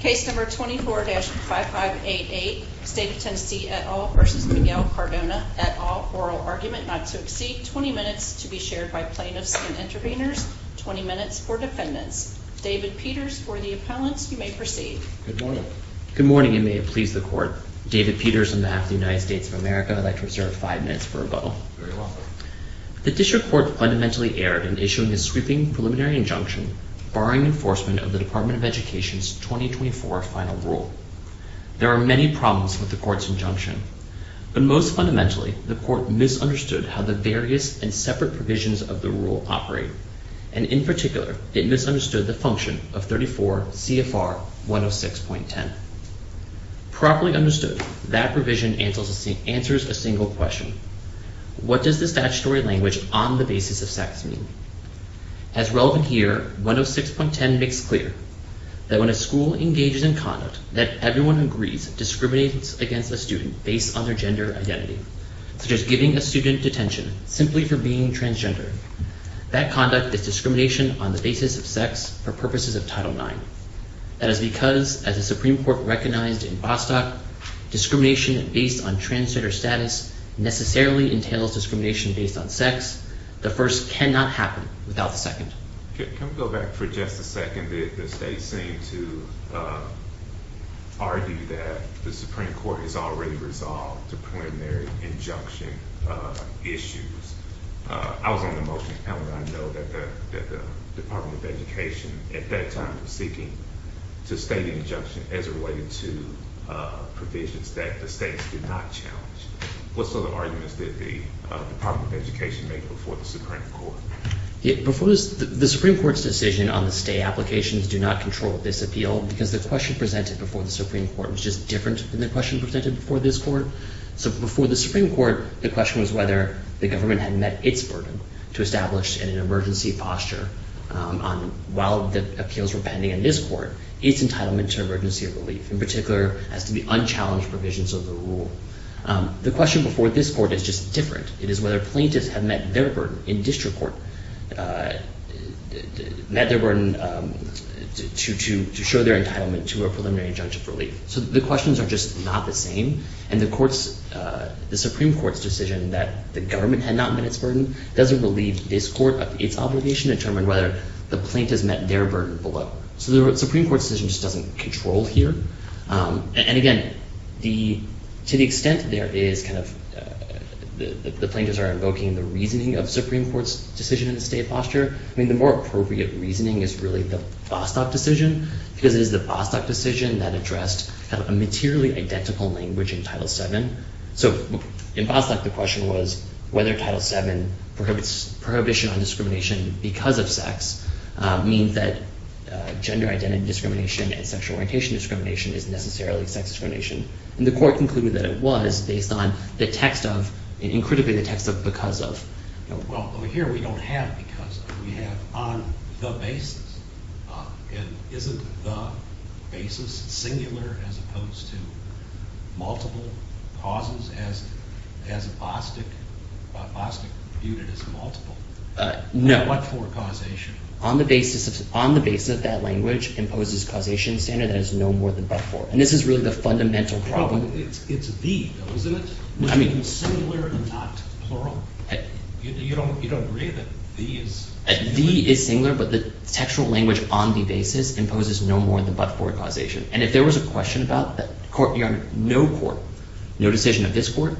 Case number 24-5588, State of Tennessee et al. v. Miguel Cardona et al. Oral argument not to exceed 20 minutes to be shared by plaintiffs and intervenors, 20 minutes for defendants. David Peters for the appellants. You may proceed. Good morning. Good morning and may it please the court. David Peters on behalf of the United States of America would like to reserve five minutes for rebuttal. Very well. The district court fundamentally erred in issuing a sweeping preliminary injunction barring enforcement of the Department of Education's 2024 final rule. There are many problems with the court's injunction, but most fundamentally the court misunderstood how the various and separate provisions of the rule operate, and in particular it misunderstood the function of 34 CFR 106.10. Properly understood, that provision answers a single question. What does the statutory language on the basis of sex mean? As relevant here, 106.10 makes clear that when a school engages in conduct that everyone who agrees discriminates against a student based on their gender identity, such as giving a student detention simply for being transgender. That conduct is discrimination on the basis of sex for purposes of Title IX. That is because, as the Supreme Court recognized in Bostock, discrimination based on transgender status necessarily entails discrimination based on sex. The first cannot happen without the second. Can we go back for just a second? The state seemed to argue that the Supreme Court has already resolved the preliminary injunction issues. I was on the motion and I know that the Department of Education at that time was seeking to state an injunction as a way to provisions that the states did not challenge. What sort of arguments did the Department of Education make before the Supreme Court? The Supreme Court's decision on the state applications do not control this appeal because the question presented before the Supreme Court was just different than the question presented before this court. So before the Supreme Court, the question was whether the government had met its burden to establish in an emergency posture while the appeals were pending in this court its entitlement to emergency relief, in particular as to the unchallenged provisions of the rule. The question before this court is just different. It is whether plaintiffs have met their burden in district court, met their burden to show their entitlement to a preliminary injunction for relief. So the questions are just not the same. And the Supreme Court's decision that the government had not met its burden doesn't relieve this court of its obligation to determine whether the plaintiffs met their burden below. So the Supreme Court's decision just doesn't control here. And again, to the extent that the plaintiffs are invoking the reasoning of the Supreme Court's decision in the state posture, the more appropriate reasoning is really the Vostok decision because it is the Vostok decision that addressed a materially identical language in Title VII. So in Vostok, the question was whether Title VII prohibition on discrimination because of sex means that gender identity discrimination and sexual orientation discrimination is necessarily sex discrimination. And the court concluded that it was based on the text of, and critically the text of because of. Well, over here we don't have because of. We have on the basis. And isn't the basis singular as opposed to multiple causes as Vostok viewed it as multiple? No. But for causation. On the basis of that language imposes causation standard that is no more than but for. And this is really the fundamental problem. It's the, though, isn't it? Which means singular and not plural. You don't agree that the is singular? The is singular, but the textual language on the basis imposes no more than but for causation. And if there was a question about that court, your honor, no court, no decision of this court,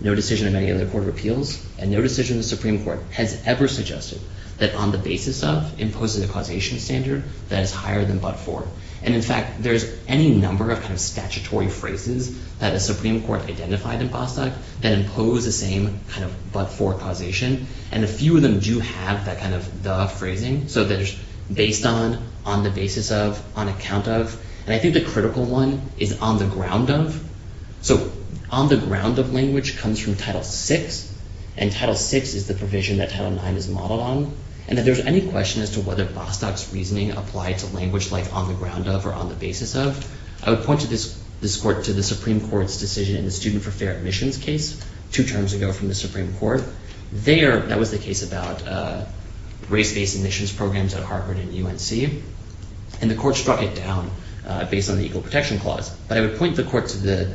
no decision of any other court of appeals, and no decision the Supreme Court has ever suggested that on the basis of imposes a causation standard that is higher than but for. And in fact, there's any number of statutory phrases that the Supreme Court identified in Vostok that impose the same kind of but for causation. And a few of them do have that kind of the phrasing. So there's based on, on the basis of, on account of. And I think the critical one is on the ground of. So on the ground of language comes from title six. And title six is the provision that title nine is modeled on. And if there's any question as to whether Vostok's reasoning applied to language like on the ground of or on the basis of, I would point to this court, to the Supreme Court's decision in the student for fair admissions case two terms ago from the Supreme Court. There, that was the case about race-based admissions programs at Harvard and UNC. And the court struck it down based on the equal protection clause. But I would point the court to the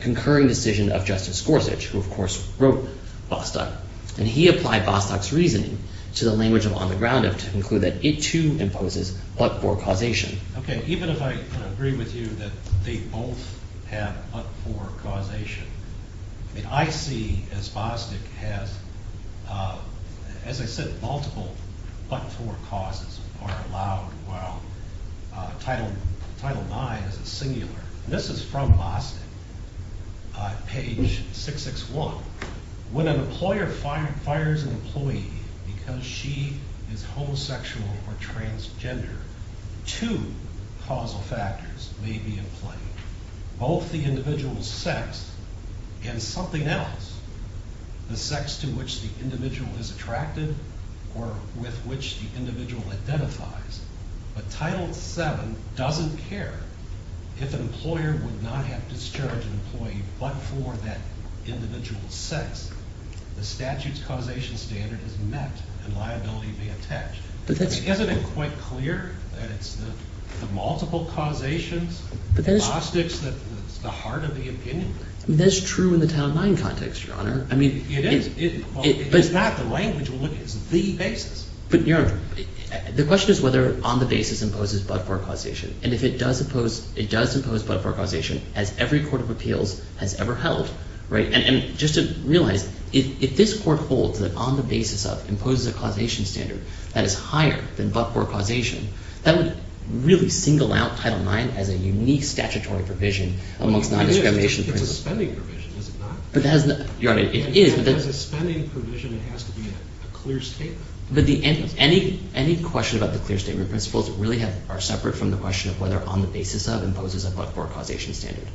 concurring decision of Justice Gorsuch, who of course wrote Vostok. And he applied Vostok's reasoning to the language of on the ground of to conclude that it too imposes but for causation. Okay, even if I agree with you that they both have but for causation. I mean, I see as Vostok has, as I said, multiple but for causes are allowed. Well, title, title nine is a singular. This is from Vostok, page 661. When an employer fires an employee because she is homosexual or transgender, two causal factors may be in play. Both the individual's sex and something else, the sex to which the individual is attracted or with which the individual identifies. But title seven doesn't care if an employer would not have discharged an employee but for that individual's sex. The statute's causation standard is met and liability may be detached. But isn't it quite clear that it's the multiple causations, the Vostoks, that's the heart of the opinion? That's true in the title nine context, Your Honor. I mean, it is. It is not. The language we're looking at is the basis. But Your Honor, the question is whether on the basis imposes but for causation. And if it does impose, it does impose but for causation as every court of appeals has ever held, right? And just to realize, if this court holds that on the basis of imposes a causation standard that is higher than but for causation, that would really single out title nine as a unique statutory provision amongst non-discrimination. It's a spending provision, is it not? Your Honor, it is. But as a spending provision, it has to be a clear statement. But any question about the clear statement principles really are separate from the question of whether on the basis of imposes a but for causation standard.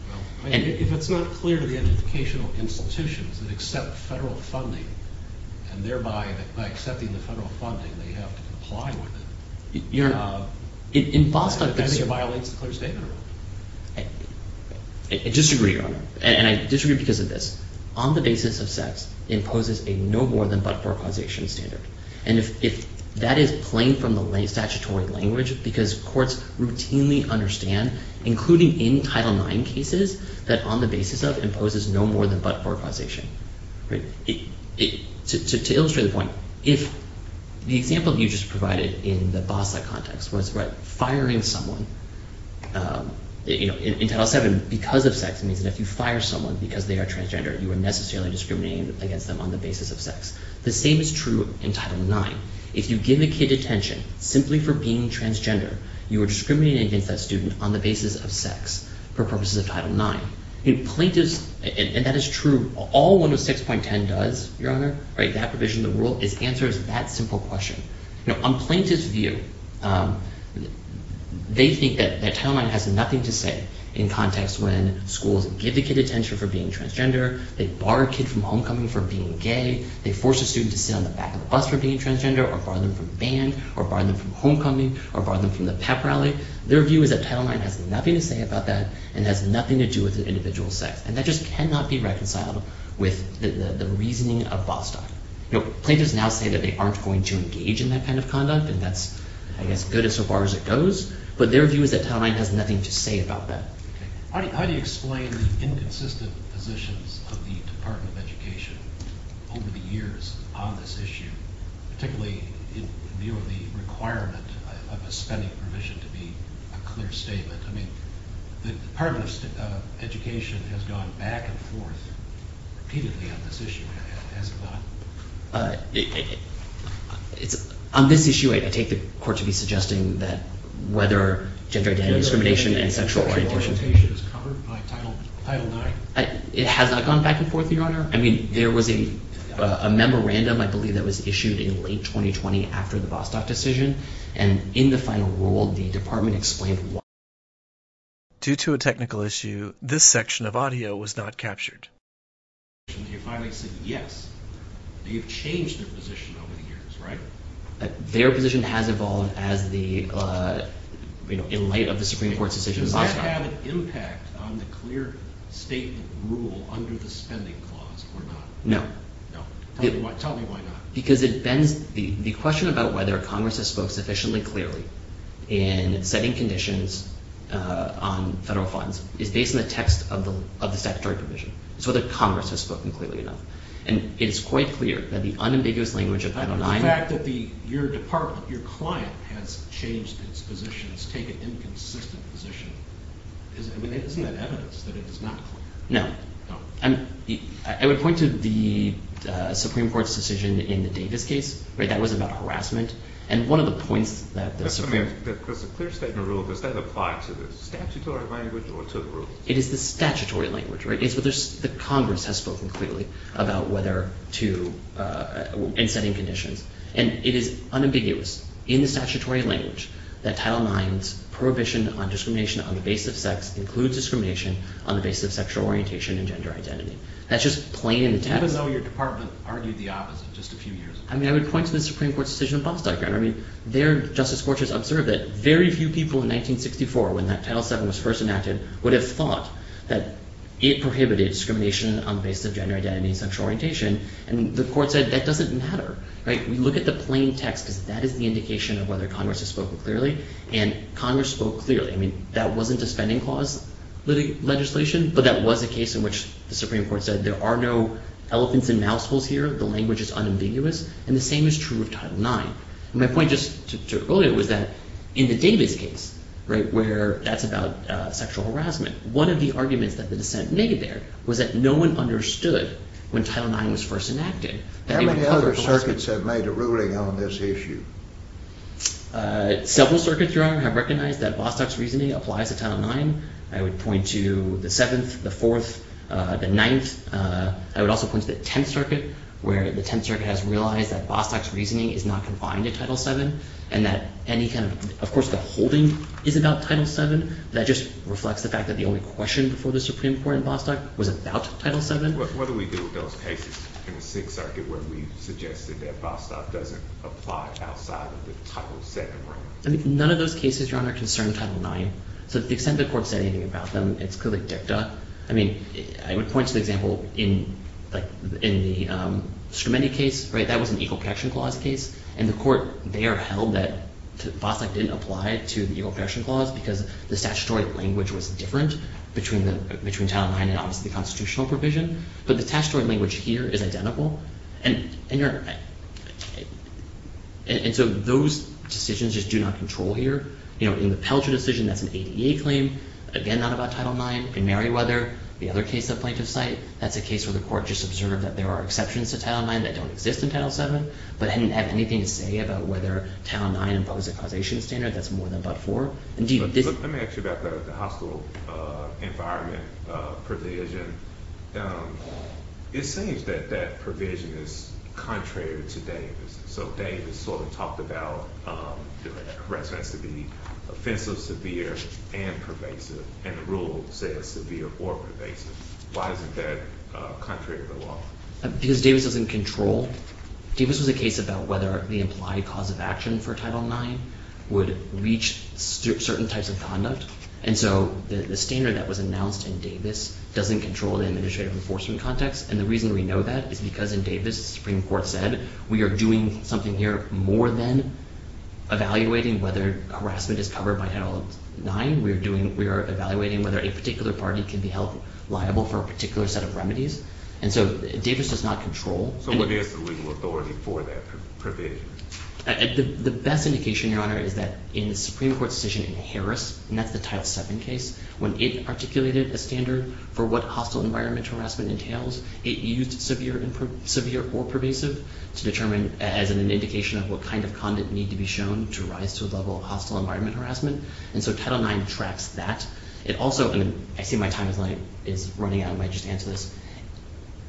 If it's not clear to the educational institutions that accept federal funding and thereby by accepting the federal funding, they have to comply with it, I think it violates the clear statement rule. I disagree, Your Honor. And I disagree because of this. On the basis of sex, it imposes a no more than but for causation standard. And if that is plain from the statutory language, because courts routinely understand, including in title nine cases, that on the basis of imposes no more than but for causation. To illustrate the point, if the example you just provided in the BASA context was about firing someone, in title seven, because of sex means that if you fire someone because they are transgender, you are necessarily discriminating against them on the basis of sex. The same is true in title nine. If you give a kid detention simply for being transgender, you are discriminating against that student on the basis of sex for purposes of title nine. Plaintiffs, and that is true, all 106.10 does, Your Honor, that provision in the rule, answers that simple question. On plaintiff's view, they think that title nine has nothing to say in the context when schools give the kid detention for being transgender, they bar a kid from homecoming for being gay, they force a student to sit on the back of a bus for being transgender, or bar them from band, or bar them from homecoming, or bar them from the pep rally. Their view is that title nine has nothing to say about that and has nothing to do with the individual's sex. And that just cannot be reconciled with the reasoning of BASA. Plaintiffs now say that they aren't going to engage in that kind of conduct, and that's, I guess, good as far as it goes, but their view is that title nine has nothing to say about that. How do you explain the inconsistent positions of the Department of Education over the years on this issue, particularly in view of the requirement of a spending provision to be a clear statement? I mean, the Department of Education has gone back and forth repeatedly on this issue, has it not? On this issue, I take the court to be suggesting that whether gender identity discrimination and sexual orientation is covered by title nine. It has not gone back and forth, Your Honor. I mean, there was a memorandum, I believe, that was issued in late 2020 after the Bostock decision, and in the final rule, the Department explained why. Due to a technical issue, this section of audio was not captured. You finally said yes. You've changed their position over the years, right? Their position has evolved in light of the Supreme Court's decision in Bostock. Does that have an impact on the clear statement rule under the spending clause or not? No. No. Tell me why not. The question about whether Congress has spoken sufficiently clearly in setting conditions on federal funds is based on the text of the statutory provision. It's whether Congress has spoken clearly enough. And it is quite clear that the unambiguous language of title nine… The fact that your department, your client, has changed its position, has taken inconsistent positions, isn't that evidence that it is not clear? No. I mean, I would point to the Supreme Court's decision in the Davis case, right? That was about harassment. And one of the points that the Supreme… Just a minute. Does the clear statement rule, does that apply to the statutory language or to the rule? It is the statutory language, right? It's whether Congress has spoken clearly about whether to… in setting conditions. And it is unambiguous in the statutory language that title nine's prohibition on discrimination on the basis of sex includes discrimination on the basis of sexual orientation and gender identity. That's just plain and… Even though your department argued the opposite just a few years ago? I mean, I would point to the Supreme Court's decision in Bostock. I mean, their Justice Court has observed that very few people in 1964, when that title seven was first enacted, would have thought that it prohibited discrimination on the basis of gender identity and sexual orientation. And the court said that doesn't matter, right? We look at the plain text because that is the indication of whether Congress has spoken clearly. And Congress spoke clearly. I mean, that wasn't a spending clause legislation, but that was a case in which the Supreme Court said there are no elephants and mousetraps here. The language is unambiguous. And the same is true of title nine. My point just to earlier was that in the Davis case, right, where that's about sexual harassment, one of the arguments that the dissent made there was that no one understood when title nine was first enacted. How many other circuits have made a ruling on this issue? Several circuits, Your Honor, have recognized that Bostock's reasoning applies to title nine. I would point to the seventh, the fourth, the ninth. I would also point to the tenth circuit, where the tenth circuit has realized that Bostock's reasoning is not confined to title seven and that any kind of… Of course, the holding is about title seven, but that just reflects the fact that the only question before the Supreme Court in Bostock was about title seven. What do we do with those cases in the sixth circuit where we've suggested that Bostock doesn't apply outside of the title seven rule? None of those cases, Your Honor, concern title nine. So to the extent the court said anything about them, it's clearly dicta. I mean, I would point to the example in the Scremendi case, right, that was an equal protection clause case. And the court there held that Bostock didn't apply to the equal protection clause because the statutory language was different between title nine and obviously the constitutional provision. But the statutory language here is identical. And so those decisions just do not control here. In the Pelcher decision, that's an ADA claim, again, not about title nine. In Merriweather, the other case of plaintiff's site, that's a case where the court just observed that there are exceptions to title nine that don't exist in title seven but didn't have anything to say about whether title nine imposed a causation standard that's more than but-for. Let me ask you about the hospital environment provision. It seems that that provision is contrary to Davis. So Davis sort of talked about the residence to be offensive, severe, and pervasive, and the rule says severe or pervasive. Why isn't that contrary to the law? Because Davis doesn't control. Davis was a case about whether the implied cause of action for title nine would reach certain types of conduct. And so the standard that was announced in Davis doesn't control the administrative enforcement context. And the reason we know that is because in Davis, the Supreme Court said we are doing something here more than evaluating whether harassment is covered by title nine. We are evaluating whether a particular party can be held liable for a particular set of remedies. And so Davis does not control. So what is the legal authority for that provision? The best indication, Your Honor, is that in the Supreme Court's decision in Harris, and that's the title seven case, when it articulated a standard for what hostile environment harassment entails, it used severe or pervasive to determine as an indication of what kind of conduct need to be shown to rise to a level of hostile environment harassment. And so title nine tracks that. I see my time is running out. I might just answer this.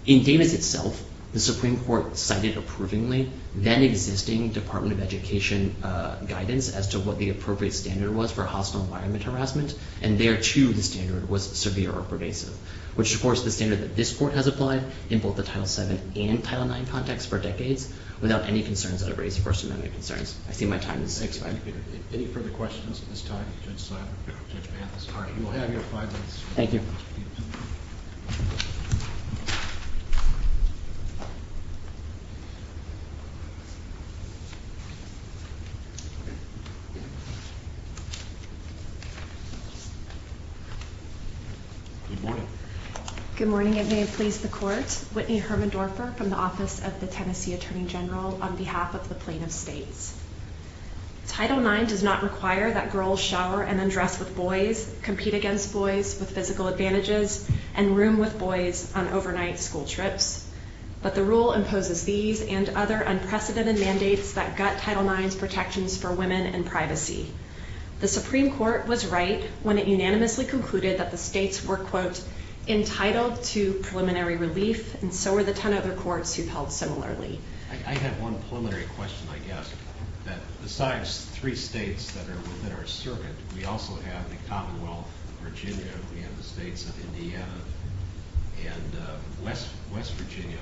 In Davis itself, the Supreme Court cited approvingly then existing Department of Education guidance as to what the appropriate standard was for hostile environment harassment. And there too, the standard was severe or pervasive, which of course is the standard that this court has applied in both the title seven and title nine context for decades without any concerns that have raised First Amendment concerns. I see my time is up. Thank you, Peter. If any further questions at this time, Judge Simon, Judge Mathis. You will have your five minutes. Thank you. Good morning. Good morning, and may it please the Court. My name is Whitney Hermendorfer from the Office of the Tennessee Attorney General on behalf of the Plain of States. Title nine does not require that girls shower and then dress with boys, compete against boys with physical advantages, and room with boys on overnight school trips. But the rule imposes these and other unprecedented mandates that gut title nine's protections for women and privacy. The Supreme Court was right when it unanimously concluded that the states were, quote, entitled to preliminary relief, and so were the ten other courts who held similarly. I have one preliminary question, I guess, that besides three states that are within our circuit, we also have the Commonwealth of Virginia, we have the states of Indiana, and West Virginia.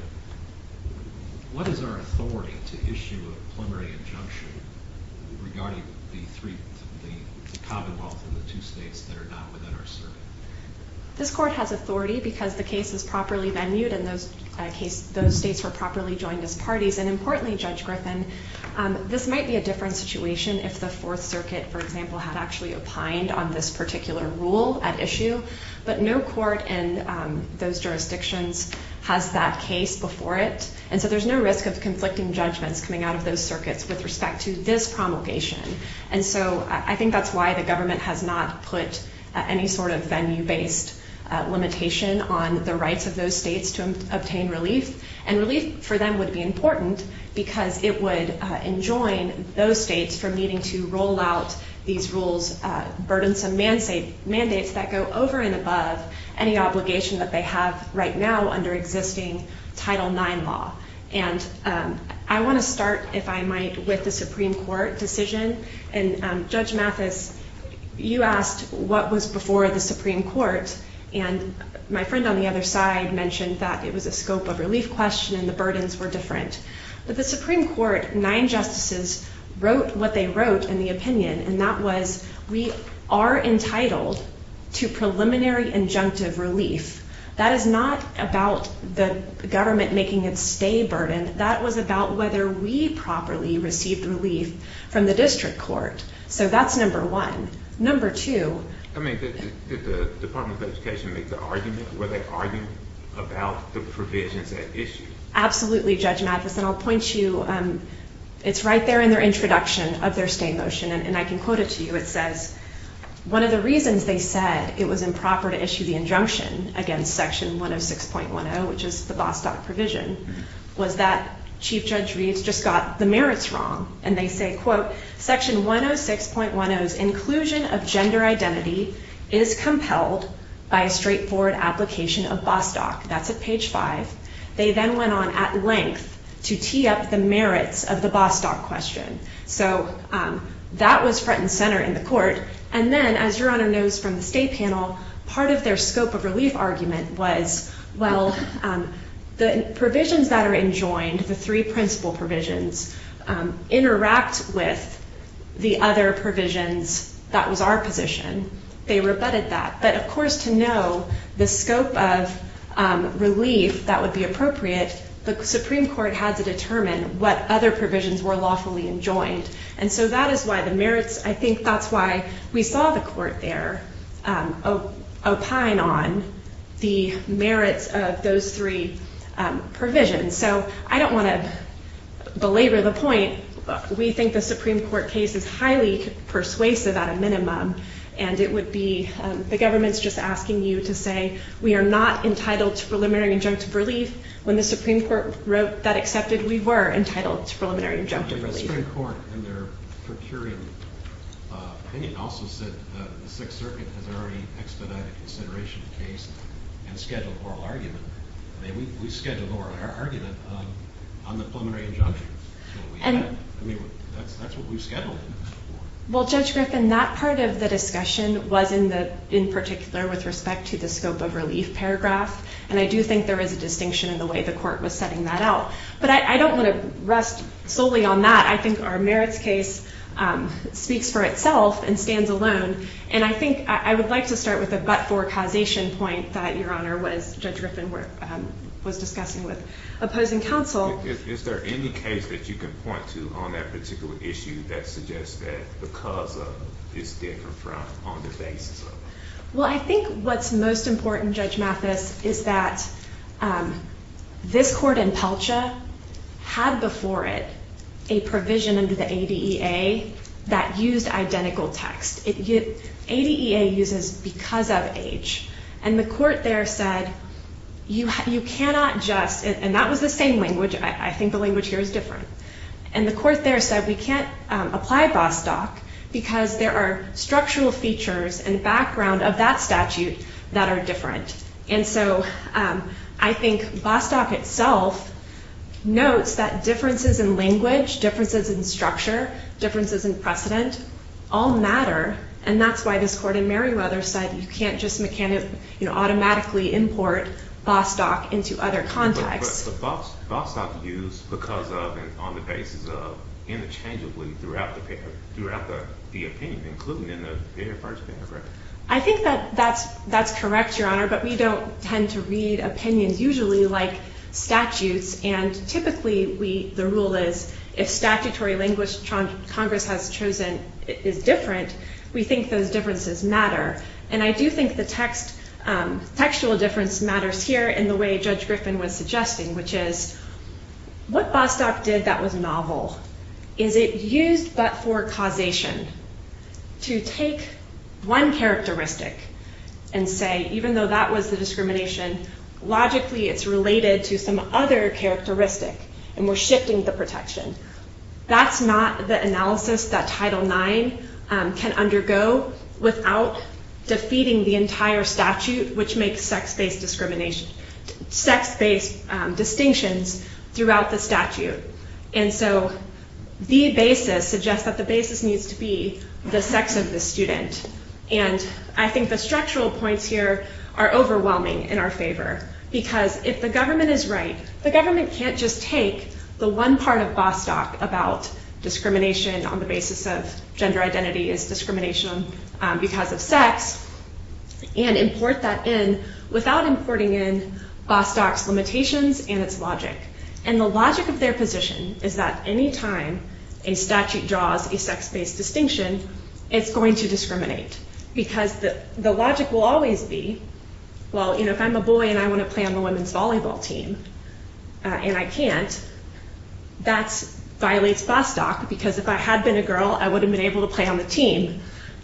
What is our authority to issue a preliminary injunction regarding the Commonwealth and the two states that are not within our circuit? This court has authority because the case has properly been viewed and those states were properly joined as parties. And importantly, Judge Griffin, this might be a different situation if the Fourth Circuit, for example, had actually opined on this particular rule at issue. But no court in those jurisdictions has that case before it, and so there's no risk of conflicting judgments coming out of those circuits with respect to this promulgation. And so I think that's why the government has not put any sort of venue-based limitation on the rights of those states to obtain relief. And relief for them would be important because it would enjoin those states from needing to roll out these rules, burdensome mandates that go over and above any obligation that they have right now under existing Title IX law. And I want to start, if I might, with the Supreme Court decision. And Judge Mathis, you asked what was before the Supreme Court, and my friend on the other side mentioned that it was a scope of relief question and the burdens were different. But the Supreme Court, nine justices, wrote what they wrote in the opinion, and that was we are entitled to preliminary injunctive relief. That is not about the government making its stay burdened. That was about whether we properly received relief from the district court. So that's number one. Number two... I mean, did the Department of Education make the argument? Were they arguing about the provisions at issue? Absolutely, Judge Mathis. And I'll point you, it's right there in their introduction of their stay motion, and I can quote it to you. It says, one of the reasons they said it was improper to issue the injunction against Section 106.10, which is the Bostock provision, was that Chief Judge Reeds just got the merits wrong. And they say, quote, Section 106.10's inclusion of gender identity is compelled by a straightforward application of Bostock. That's at page five. They then went on at length to tee up the merits of the Bostock question. So that was front and center in the court. And then, as Your Honor knows from the state panel, part of their scope of relief argument was, well, the provisions that are enjoined, the three principal provisions, interact with the other provisions. That was our position. They rebutted that. But, of course, to know the scope of relief that would be appropriate, the Supreme Court had to determine what other provisions were lawfully enjoined. And so that is why the merits, I think that's why we saw the court there opine on the merits of those three provisions. So I don't want to belabor the point. We think the Supreme Court case is highly persuasive at a minimum, and it would be the government's just asking you to say, we are not entitled to preliminary injunctive relief. When the Supreme Court wrote that accepted, we were entitled to preliminary injunctive relief. The Supreme Court, in their procuring opinion, also said the Sixth Circuit has already expedited consideration of the case and scheduled oral argument. We scheduled oral argument on the preliminary injunction. That's what we scheduled it for. Well, Judge Griffin, that part of the discussion was in particular with respect to the scope of relief paragraph, and I do think there is a distinction in the way the court was setting that out. But I don't want to rest solely on that. I think our merits case speaks for itself and stands alone. And I think I would like to start with a but-for causation point that, Your Honor, Judge Griffin was discussing with opposing counsel. Is there any case that you can point to on that particular issue that suggests that the cause of it is different from on the basis of it? Well, I think what's most important, Judge Mathis, is that this court in Pelcha had before it a provision under the ADEA that used identical text. ADEA uses because of age. And the court there said you cannot just, and that was the same language. I think the language here is different. And the court there said we can't apply Bostock because there are structural features and background of that statute that are different. And so I think Bostock itself notes that differences in language, differences in structure, differences in precedent all matter, and that's why this court in Merriweather said you can't just automatically import Bostock into other contexts. But Bostock used because of and on the basis of interchangeably throughout the opinion, including in the very first paragraph. I think that that's correct, Your Honor, but we don't tend to read opinions usually like statutes, and typically the rule is if statutory language Congress has chosen is different, we think those differences matter. And I do think the textual difference matters here in the way Judge Griffin was suggesting, which is what Bostock did that was novel is it used but for causation to take one characteristic and say even though that was the discrimination, logically it's related to some other characteristic and we're shifting the protection. That's not the analysis that Title IX can undergo without defeating the entire statute, which makes sex-based discrimination, sex-based distinctions throughout the statute. And so the basis suggests that the basis needs to be the sex of the student. And I think the structural points here are overwhelming in our favor because if the government is right, the government can't just take the one part of Bostock about discrimination on the basis of gender identity is discrimination because of sex and import that in without importing in Bostock's limitations and its logic. And the logic of their position is that any time a statute draws a sex-based distinction, it's going to discriminate because the logic will always be, well, if I'm a boy and I want to play on the women's volleyball team and I can't, that violates Bostock because if I had been a girl, I would have been able to play on the team.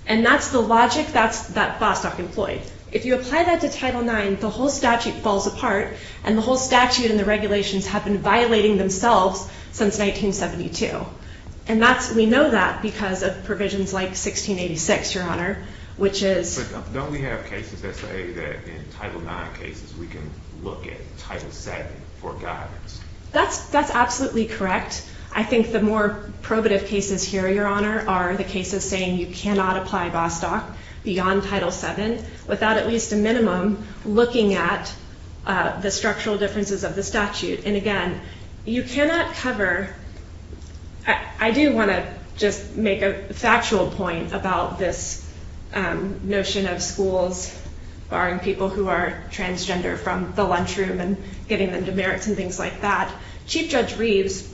And that's the logic that Bostock employed. If you apply that to Title IX, the whole statute falls apart and the whole statute and the regulations have been violating themselves since 1972. And we know that because of provisions like 1686, Your Honor, which is… But don't we have cases that say that in Title IX cases we can look at Title VII for guidance? That's absolutely correct. I think the more probative cases here, Your Honor, are the cases saying you cannot apply Bostock beyond Title VII without at least a minimum looking at the structural differences of the statute. And again, you cannot cover… I do want to just make a factual point about this notion of schools barring people who are transgender from the lunchroom and getting them demerits and things like that. Chief Judge Reeves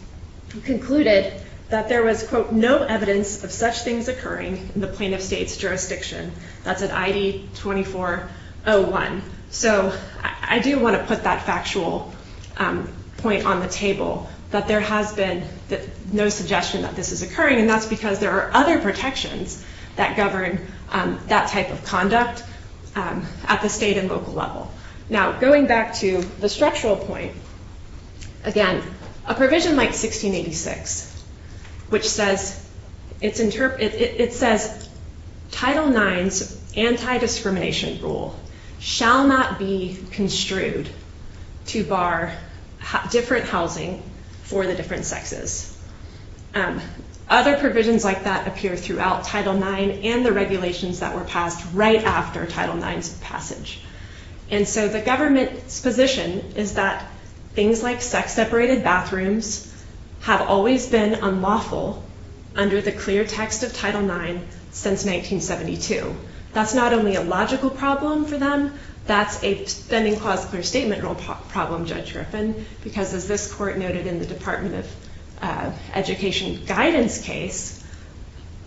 concluded that there was, quote, no evidence of such things occurring in the plaintiff state's jurisdiction. That's in ID 2401. So I do want to put that factual point on the table, that there has been no suggestion that this is occurring, and that's because there are other protections that govern that type of conduct at the state and local level. Now, going back to the structural point, again, a provision like 1686, which says Title IX's anti-discrimination rule shall not be construed to bar different housing for the different sexes. Other provisions like that appear throughout Title IX and the regulations that were passed right after Title IX's passage. And so the government's position is that things like sex-separated bathrooms have always been unlawful under the clear text of Title IX since 1972. That's not only a logical problem for them, that's a pending clause-clear statement rule problem, Judge Griffin, because as this court noted in the Department of Education guidance case,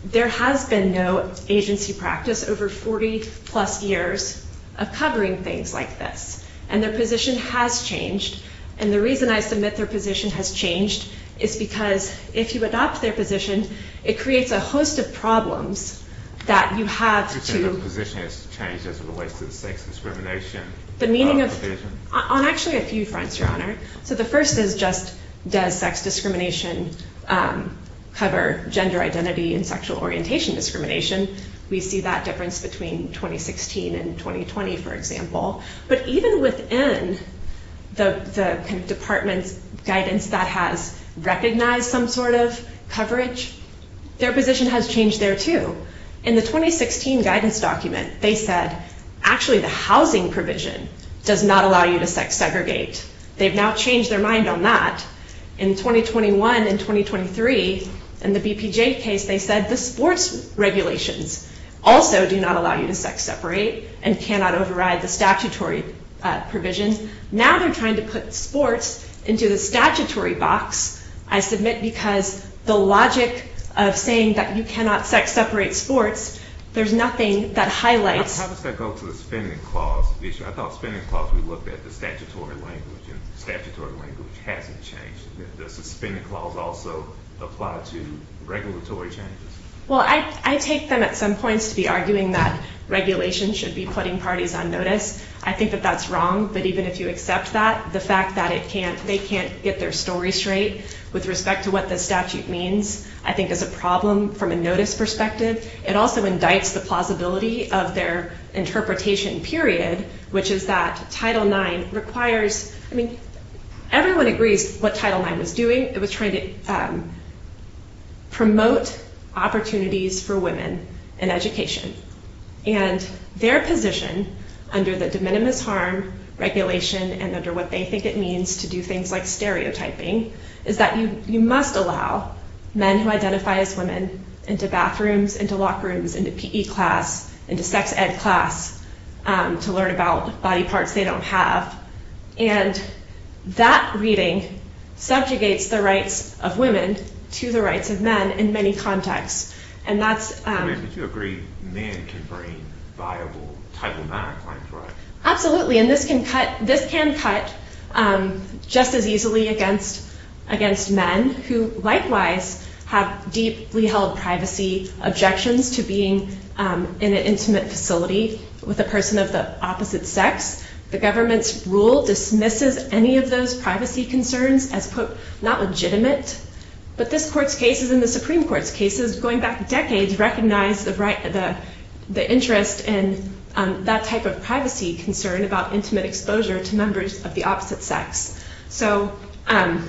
there has been no agency practice over 40-plus years of covering things like this. And their position has changed, and the reason I submit their position has changed is because if you adopt their position, it creates a host of problems that you have to... You're saying their position has changed as it relates to the sex discrimination provision? The meaning of... On actually a few fronts, Your Honor. So the first is just does sex discrimination cover gender identity and sexual orientation discrimination? We see that difference between 2016 and 2020, for example. But even within the department's guidance that has recognized some sort of coverage, their position has changed there, too. In the 2016 guidance document, they said actually the housing provision does not allow you to sex-segregate. They've now changed their mind on that. In 2021 and 2023, in the BPJ case, they said the sports regulations also do not allow you to sex-separate and cannot override the statutory provisions. Now they're trying to put sports into the statutory box, I submit, because the logic of saying that you cannot sex-separate sports, there's nothing that highlights... How does that go to the spending clause issue? I thought spending clause, we looked at the statutory language, and the statutory language hasn't changed. Does the spending clause also apply to regulatory changes? Well, I take them at some points to be arguing that regulation should be putting parties on notice. I think that that's wrong, but even if you accept that, the fact that they can't get their story straight with respect to what the statute means I think is a problem from a notice perspective. It also indicts the plausibility of their interpretation period, which is that Title IX requires... I mean, everyone agrees what Title IX was doing. It was trying to promote opportunities for women in education, and their position under the de minimis harm regulation and under what they think it means to do things like stereotyping is that you must allow men who identify as women into bathrooms, into locker rooms, into PE class, into sex ed class to learn about body parts they don't have, and that reading subjugates the rights of women to the rights of men in many contexts, and that's... I mean, but you agree men can bring viable Title IX claims, right? Absolutely, and this can cut just as easily against men who likewise have deeply held privacy objections to being in an intimate facility with a person of the opposite sex. The government's rule dismisses any of those privacy concerns as, quote, not legitimate, but this Court's cases and the Supreme Court's cases going back decades recognize the interest in that type of privacy concern about intimate exposure to members of the opposite sex. So I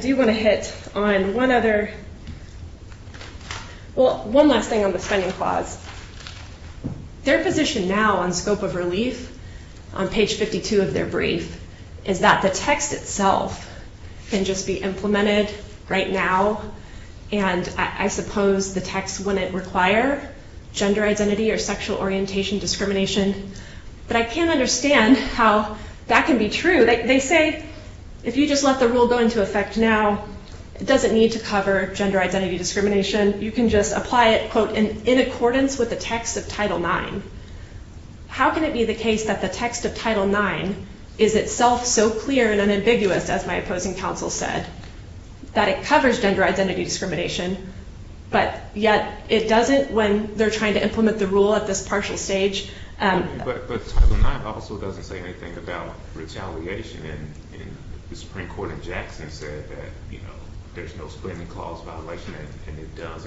do want to hit on one other... Well, one last thing on the spending clause. Their position now on scope of relief, on page 52 of their brief, is that the text itself can just be implemented right now, and I suppose the text wouldn't require gender identity or sexual orientation discrimination, but I can't understand how that can be true. They say if you just let the rule go into effect now, it doesn't need to cover gender identity discrimination. You can just apply it, quote, in accordance with the text of Title IX. How can it be the case that the text of Title IX is itself so clear and unambiguous, as my opposing counsel said, that it covers gender identity discrimination, but yet it doesn't when they're trying to implement the rule at this partial stage? But Title IX also doesn't say anything about retaliation, and the Supreme Court in Jackson said that there's no spending clause violation, and it does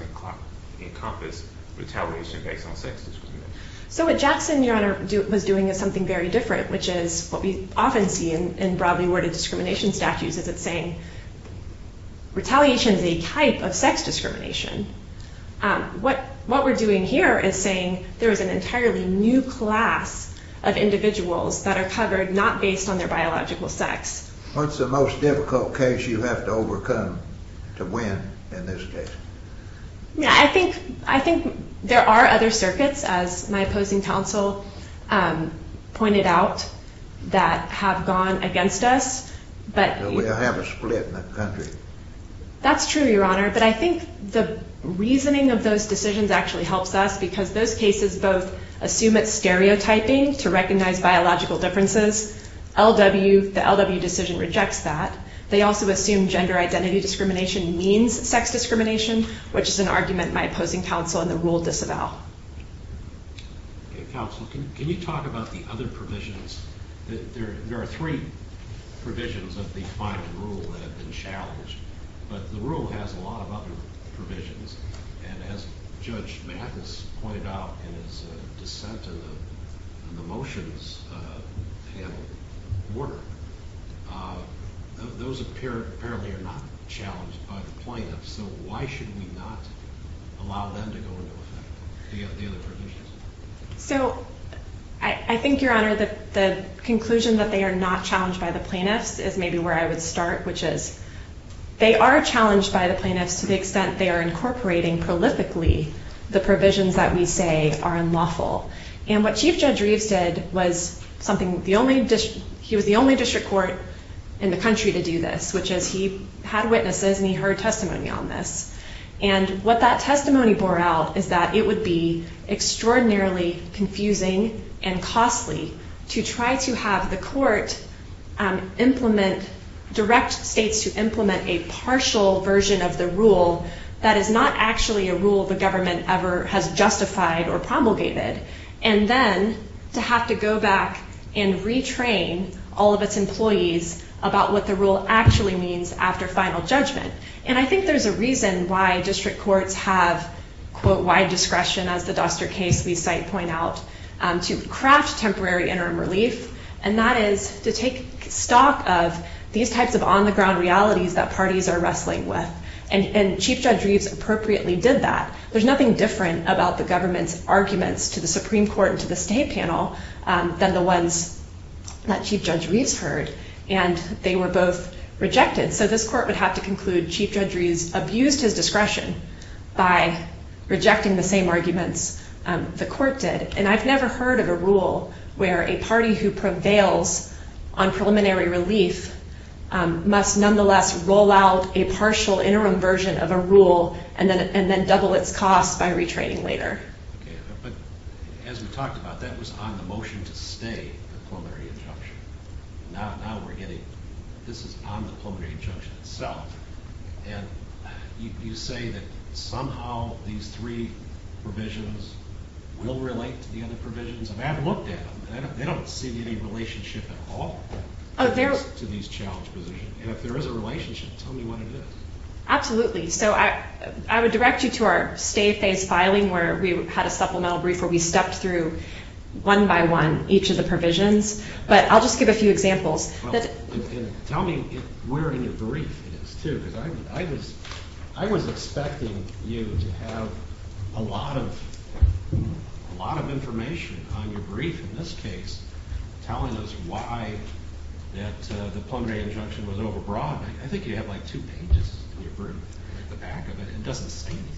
encompass retaliation based on sex discrimination. So what Jackson, Your Honor, was doing is something very different, which is what we often see in broadly worded discrimination statutes, is it's saying retaliation is a type of sex discrimination. What we're doing here is saying there is an entirely new class of individuals that are covered not based on their biological sex. What's the most difficult case you have to overcome to win in this case? I think there are other circuits, as my opposing counsel pointed out, that have gone against us. But we have a split in the country. That's true, Your Honor, but I think the reasoning of those decisions actually helps us because those cases both assume it's stereotyping to recognize biological differences. The LW decision rejects that. They also assume gender identity discrimination means sex discrimination, which is an argument my opposing counsel in the rule disavow. Counsel, can you talk about the other provisions? There are three provisions of the final rule that have been challenged, but the rule has a lot of other provisions. And as Judge Mathis pointed out in his dissent in the motions panel, those apparently are not challenged by the plaintiffs, so why should we not allow them to go into effect? Do you have the other provisions? So I think, Your Honor, the conclusion that they are not challenged by the plaintiffs is maybe where I would start, which is they are challenged by the plaintiffs to the extent they are incorporating prolifically the provisions that we say are unlawful. And what Chief Judge Reeves did was something the only district court in the country to do this, which is he had witnesses and he heard testimony on this. And what that testimony bore out is that it would be extraordinarily confusing and costly to try to have the court implement direct states to implement a partial version of the rule that is not actually a rule the government ever has justified or promulgated, and then to have to go back and retrain all of its employees about what the rule actually means after final judgment. And I think there's a reason why district courts have, quote, as the Duster case we cite point out, to craft temporary interim relief, and that is to take stock of these types of on-the-ground realities that parties are wrestling with. And Chief Judge Reeves appropriately did that. There's nothing different about the government's arguments to the Supreme Court and to the state panel than the ones that Chief Judge Reeves heard, and they were both rejected. So this court would have to conclude Chief Judge Reeves abused his discretion by rejecting the same arguments the court did. And I've never heard of a rule where a party who prevails on preliminary relief must nonetheless roll out a partial interim version of a rule and then double its cost by retraining later. Okay, but as we talked about, that was on the motion to stay, the preliminary interruption. Now we're getting this is on the preliminary interruption itself. And you say that somehow these three provisions will relate to the other provisions. I mean, I've looked at them, and they don't seem to be in any relationship at all to these challenge positions. And if there is a relationship, tell me what it is. Absolutely. So I would direct you to our stay phase filing where we had a supplemental brief where we stepped through one by one each of the provisions. But I'll just give a few examples. Tell me where in your brief it is, too, because I was expecting you to have a lot of information on your brief, in this case, telling us why the preliminary interruption was overbroad. I think you have like two pages in your brief at the back of it. It doesn't say anything.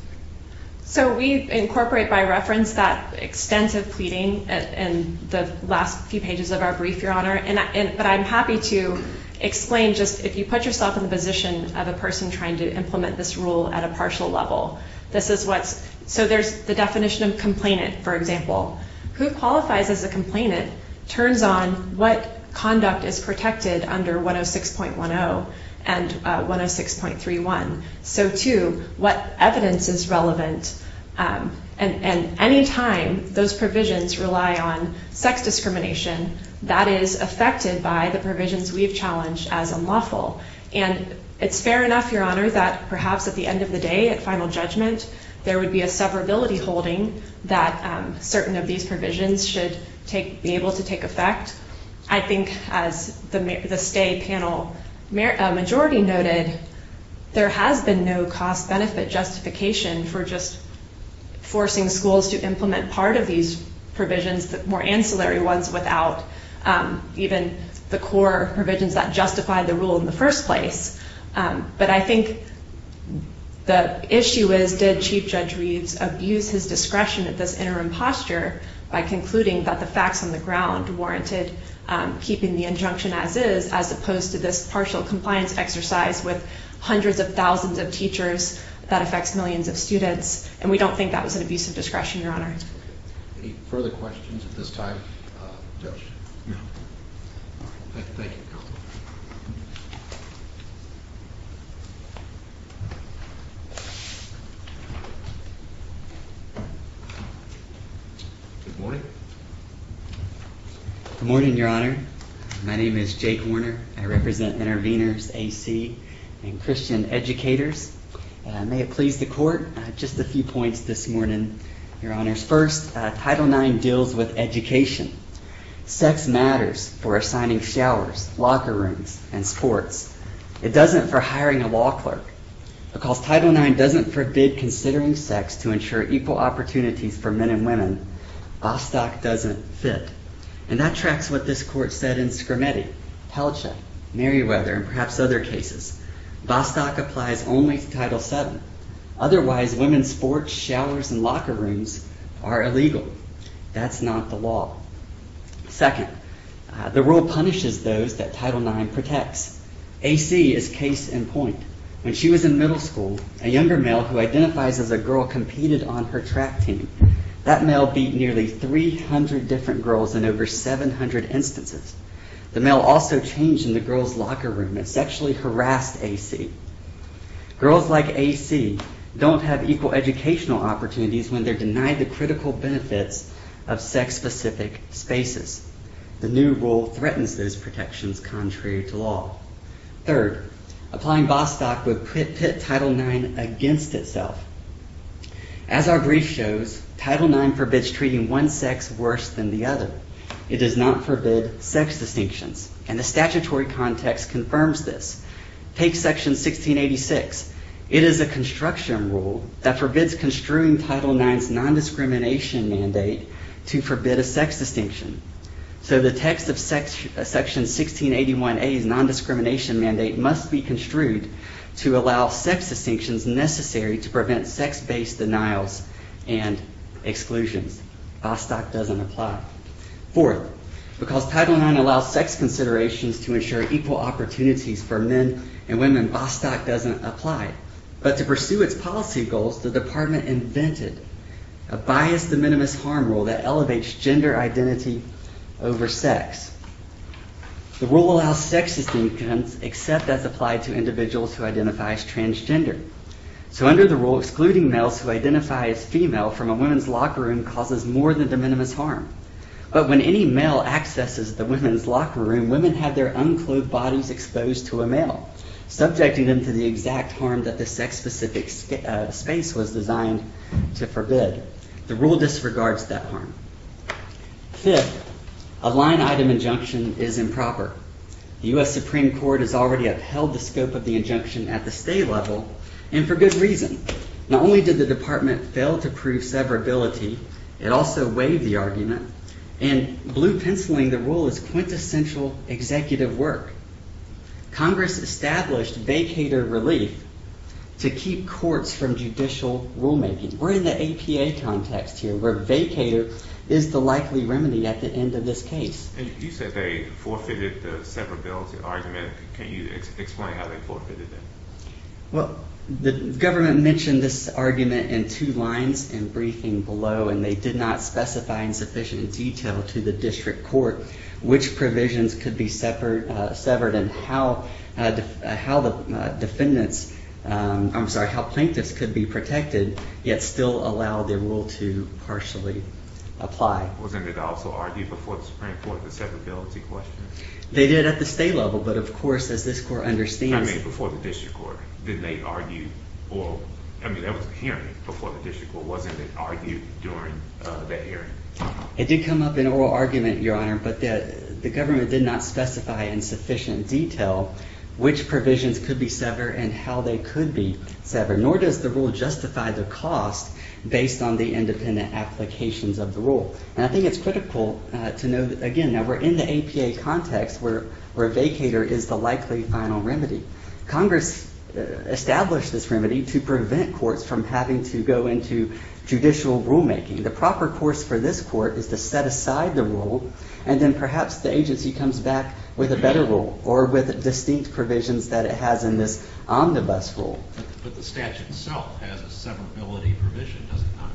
So we incorporate by reference that extensive pleading in the last few pages of our brief, Your Honor. But I'm happy to explain just if you put yourself in the position of a person trying to implement this rule at a partial level. So there's the definition of complainant, for example. Who qualifies as a complainant turns on what conduct is protected under 106.10 and 106.31. So, too, what evidence is relevant. And any time those provisions rely on sex discrimination, that is affected by the provisions we've challenged as unlawful. And it's fair enough, Your Honor, that perhaps at the end of the day, at final judgment, there would be a severability holding that certain of these provisions should be able to take effect. I think, as the stay panel majority noted, there has been no cost benefit justification for just forcing schools to implement part of these provisions, the more ancillary ones, without even the core provisions that justify the rule in the first place. But I think the issue is, did Chief Judge Reeds abuse his discretion at this interim posture by concluding that the facts on the ground warranted keeping the injunction as is, as opposed to this partial compliance exercise with hundreds of thousands of teachers that affects millions of students? And we don't think that was an abuse of discretion, Your Honor. Any further questions at this time, Judge? Thank you. Good morning. Good morning, Your Honor. My name is Jake Warner. I represent Intervenors AC and Christian Educators. May it please the Court, just a few points this morning. Your Honor, first, Title IX deals with education. Sex matters for assigning showers, locker rooms, and sports. It doesn't for hiring a law clerk. Because Title IX doesn't forbid considering sex to ensure equal opportunities for men and women, Bostock doesn't fit. And that tracks what this Court said in Scrimeti, Pelcha, Merriweather, and perhaps other cases. Bostock applies only to Title VII. Otherwise, women's sports, showers, and locker rooms are illegal. That's not the law. Second, the rule punishes those that Title IX protects. AC is case in point. When she was in middle school, a younger male who identifies as a girl competed on her track team. That male beat nearly 300 different girls in over 700 instances. The male also changed in the girl's locker room and sexually harassed AC. Girls like AC don't have equal educational opportunities when they're denied the critical benefits of sex-specific spaces. The new rule threatens those protections contrary to law. Third, applying Bostock would pit Title IX against itself. As our brief shows, Title IX forbids treating one sex worse than the other. It does not forbid sex distinctions. And the statutory context confirms this. Take Section 1686. It is a construction rule that forbids construing Title IX's nondiscrimination mandate to forbid a sex distinction. So the text of Section 1681A's nondiscrimination mandate must be construed to allow sex distinctions necessary to prevent sex-based denials and exclusions. Bostock doesn't apply. Fourth, because Title IX allows sex considerations to ensure equal opportunities for men and women, Bostock doesn't apply. But to pursue its policy goals, the Department invented a biased de minimis harm rule that elevates gender identity over sex. The rule allows sex distinctions except as applied to individuals who identify as transgender. So under the rule, excluding males who identify as female from a women's locker room causes more than de minimis harm. But when any male accesses the women's locker room, women have their unclothed bodies exposed to a male, subjecting them to the exact harm that the sex-specific space was designed to forbid. The rule disregards that harm. Fifth, a line-item injunction is improper. The U.S. Supreme Court has already upheld the scope of the injunction at the state level, and for good reason. Not only did the Department fail to prove severability, it also waived the argument. In blue penciling, the rule is quintessential executive work. Congress established vacator relief to keep courts from judicial rulemaking. We're in the APA context here, where vacator is the likely remedy at the end of this case. You said they forfeited the severability argument. Can you explain how they forfeited it? Well, the government mentioned this argument in two lines in briefing below, and they did not specify in sufficient detail to the district court which provisions could be severed and how plaintiffs could be protected, yet still allow their rule to partially apply. Wasn't it also argued before the Supreme Court the severability question? They did at the state level, but of course, as this court understands before the district court, didn't they argue? I mean, that was a hearing before the district court. Wasn't it argued during that hearing? It did come up in oral argument, Your Honor, but the government did not specify in sufficient detail which provisions could be severed and how they could be severed, nor does the rule justify the cost based on the independent applications of the rule. And I think it's critical to know that, again, now we're in the APA context where a vacator is the likely final remedy. Congress established this remedy to prevent courts from having to go into judicial rulemaking. The proper course for this court is to set aside the rule, and then perhaps the agency comes back with a better rule or with distinct provisions that it has in this omnibus rule. But the statute itself has a severability provision, does it not?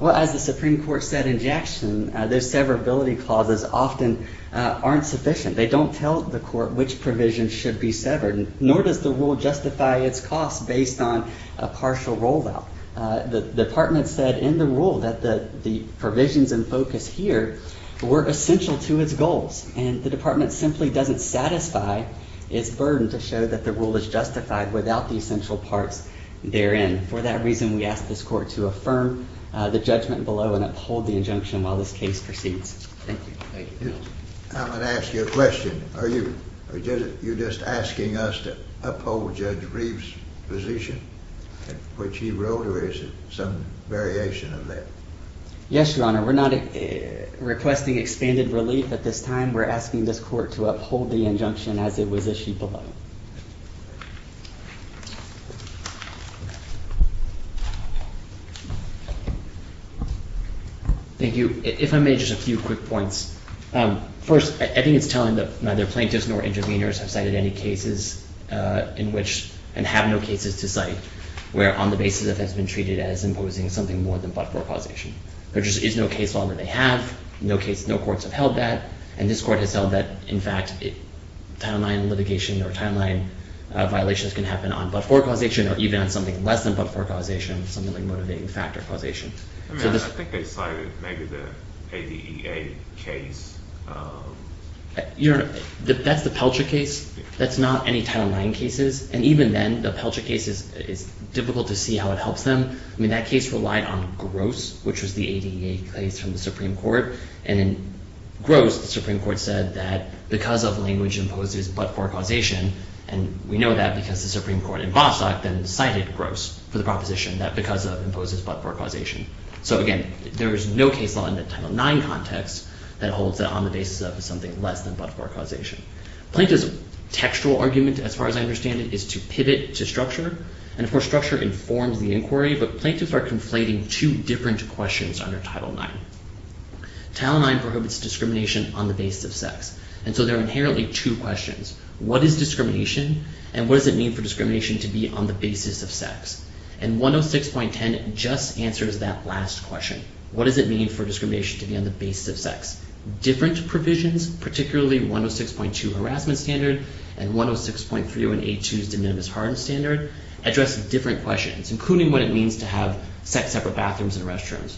Well, as the Supreme Court said in Jackson, those severability clauses often aren't sufficient. They don't tell the court which provisions should be severed, nor does the rule justify its cost based on a partial rollout. The department said in the rule that the provisions in focus here were essential to its goals, and the department simply doesn't satisfy its burden to show that the rule is justified without the essential parts therein. For that reason, we ask this court to affirm the judgment below and uphold the injunction while this case proceeds. Thank you. I'm going to ask you a question. Are you just asking us to uphold Judge Reeve's position, which he wrote, or is it some variation of that? Yes, Your Honor. We're not requesting expanded relief at this time. We're asking this court to uphold the injunction as it was issued below. Thank you. If I may, just a few quick points. First, I think it's telling that neither plaintiffs nor interveners have cited any cases in which and have no cases to cite where on the basis that that's been treated as imposing something more than but-for causation. There just is no case law that they have, no courts have held that, and this court has held that, in fact, Title IX litigation or Title IX violations can happen on but-for causation or even on something less than but-for causation, something like motivating factor causation. I mean, I think they cited maybe the ADEA case. Your Honor, that's the Pelcher case. That's not any Title IX cases, and even then, the Pelcher case, it's difficult to see how it helps them. I mean, that case relied on Gross, which was the ADEA case from the Supreme Court, and in Gross, the Supreme Court said that because of language imposes but-for causation, and we know that because the Supreme Court in Vossock then cited Gross for the proposition that because of imposes but-for causation. So, again, there is no case law in the Title IX context that holds that on the basis of something less than but-for causation. Plaintiff's textual argument, as far as I understand it, is to pivot to structure, and, of course, structure informs the inquiry, but plaintiffs are conflating two different questions under Title IX. Title IX prohibits discrimination on the basis of sex, and so there are inherently two questions. What is discrimination, and what does it mean for discrimination to be on the basis of sex? And 106.10 just answers that last question. What does it mean for discrimination to be on the basis of sex? Different provisions, particularly 106.2 Harassment Standard and 106.3082's De Minimis Harassment Standard, address different questions, including what it means to have sex-separate bathrooms and restrooms.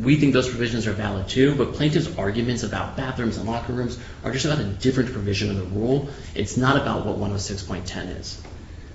We think those provisions are valid, too, but plaintiffs' arguments about bathrooms and locker rooms are just about a different provision of the rule. It's not about what 106.10 is.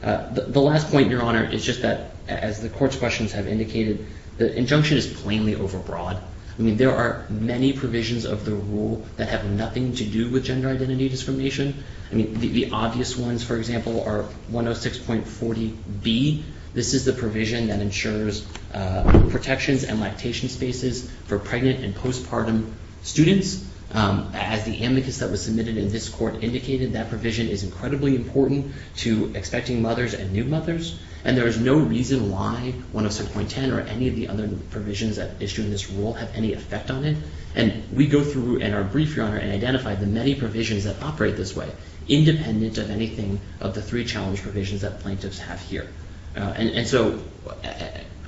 The last point, Your Honor, is just that, as the Court's questions have indicated, the injunction is plainly overbroad. I mean, there are many provisions of the rule that have nothing to do with gender identity discrimination. I mean, the obvious ones, for example, are 106.40b. This is the provision that ensures protections and lactation spaces for pregnant and postpartum students. As the amicus that was submitted in this Court indicated, that provision is incredibly important to expecting mothers and new mothers, and there is no reason why 106.10 or any of the other provisions that issue in this rule have any effect on it. And we go through in our brief, Your Honor, and identify the many provisions that operate this way, independent of anything of the three challenge provisions that plaintiffs have here. And so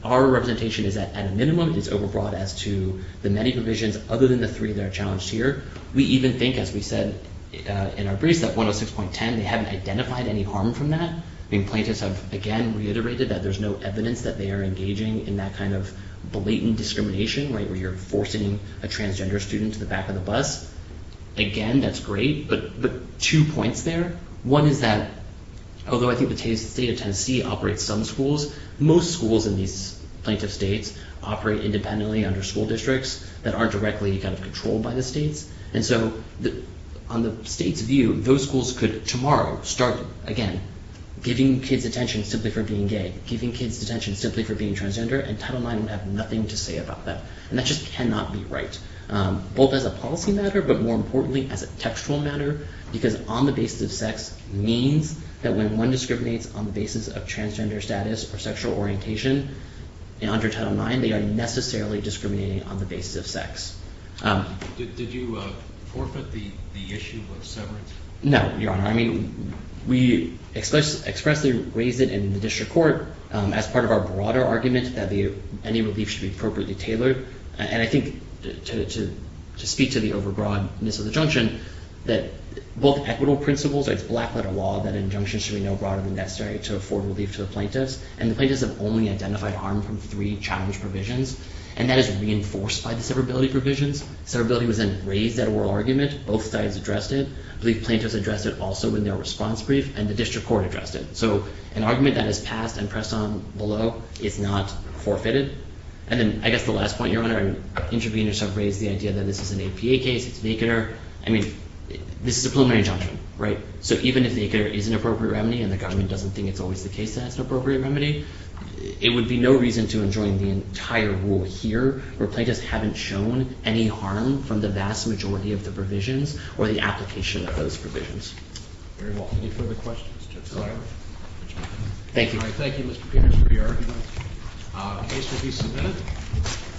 our representation is that, at a minimum, it's overbroad as to the many provisions other than the three that are challenged here. We even think, as we said in our briefs, that 106.10, they haven't identified any harm from that. I mean, plaintiffs have, again, reiterated that there's no evidence that they are engaging in that kind of blatant discrimination, right, where you're forcing a transgender student to the back of the bus. Again, that's great, but two points there. One is that, although I think the state of Tennessee operates some schools, most schools in these plaintiff states operate independently under school districts that aren't directly kind of controlled by the states. And so on the state's view, those schools could tomorrow start, again, giving kids attention simply for being gay, giving kids attention simply for being transgender, and Title IX would have nothing to say about that. And that just cannot be right, both as a policy matter, but more importantly as a textual matter, because on the basis of sex means that when one discriminates on the basis of transgender status or sexual orientation under Title IX, they are necessarily discriminating on the basis of sex. Did you forfeit the issue of severance? No, Your Honor. I mean, we expressly raised it in the district court as part of our broader argument that any relief should be appropriately tailored. And I think to speak to the over-broadness of the injunction, that both equitable principles, it's black-letter law that injunctions should be no broader than necessary to afford relief to the plaintiffs, and the plaintiffs have only identified harm from three challenge provisions, and that is reinforced by the severability provisions. Severability was then raised at oral argument. Both sides addressed it. I believe plaintiffs addressed it also in their response brief, and the district court addressed it. So an argument that is passed and pressed on below is not forfeited. And then I guess the last point, Your Honor, interveners have raised the idea that this is an APA case, it's vacanter. I mean, this is a preliminary injunction, right? So even if the vacanter is an appropriate remedy and the government doesn't think it's always the case that it's an appropriate remedy, it would be no reason to enjoin the entire rule here where plaintiffs haven't shown any harm from the vast majority of the provisions or the application of those provisions. Very well. Any further questions? No. Thank you. All right. Thank you, Mr. Peters, for your argument. The case will be submitted.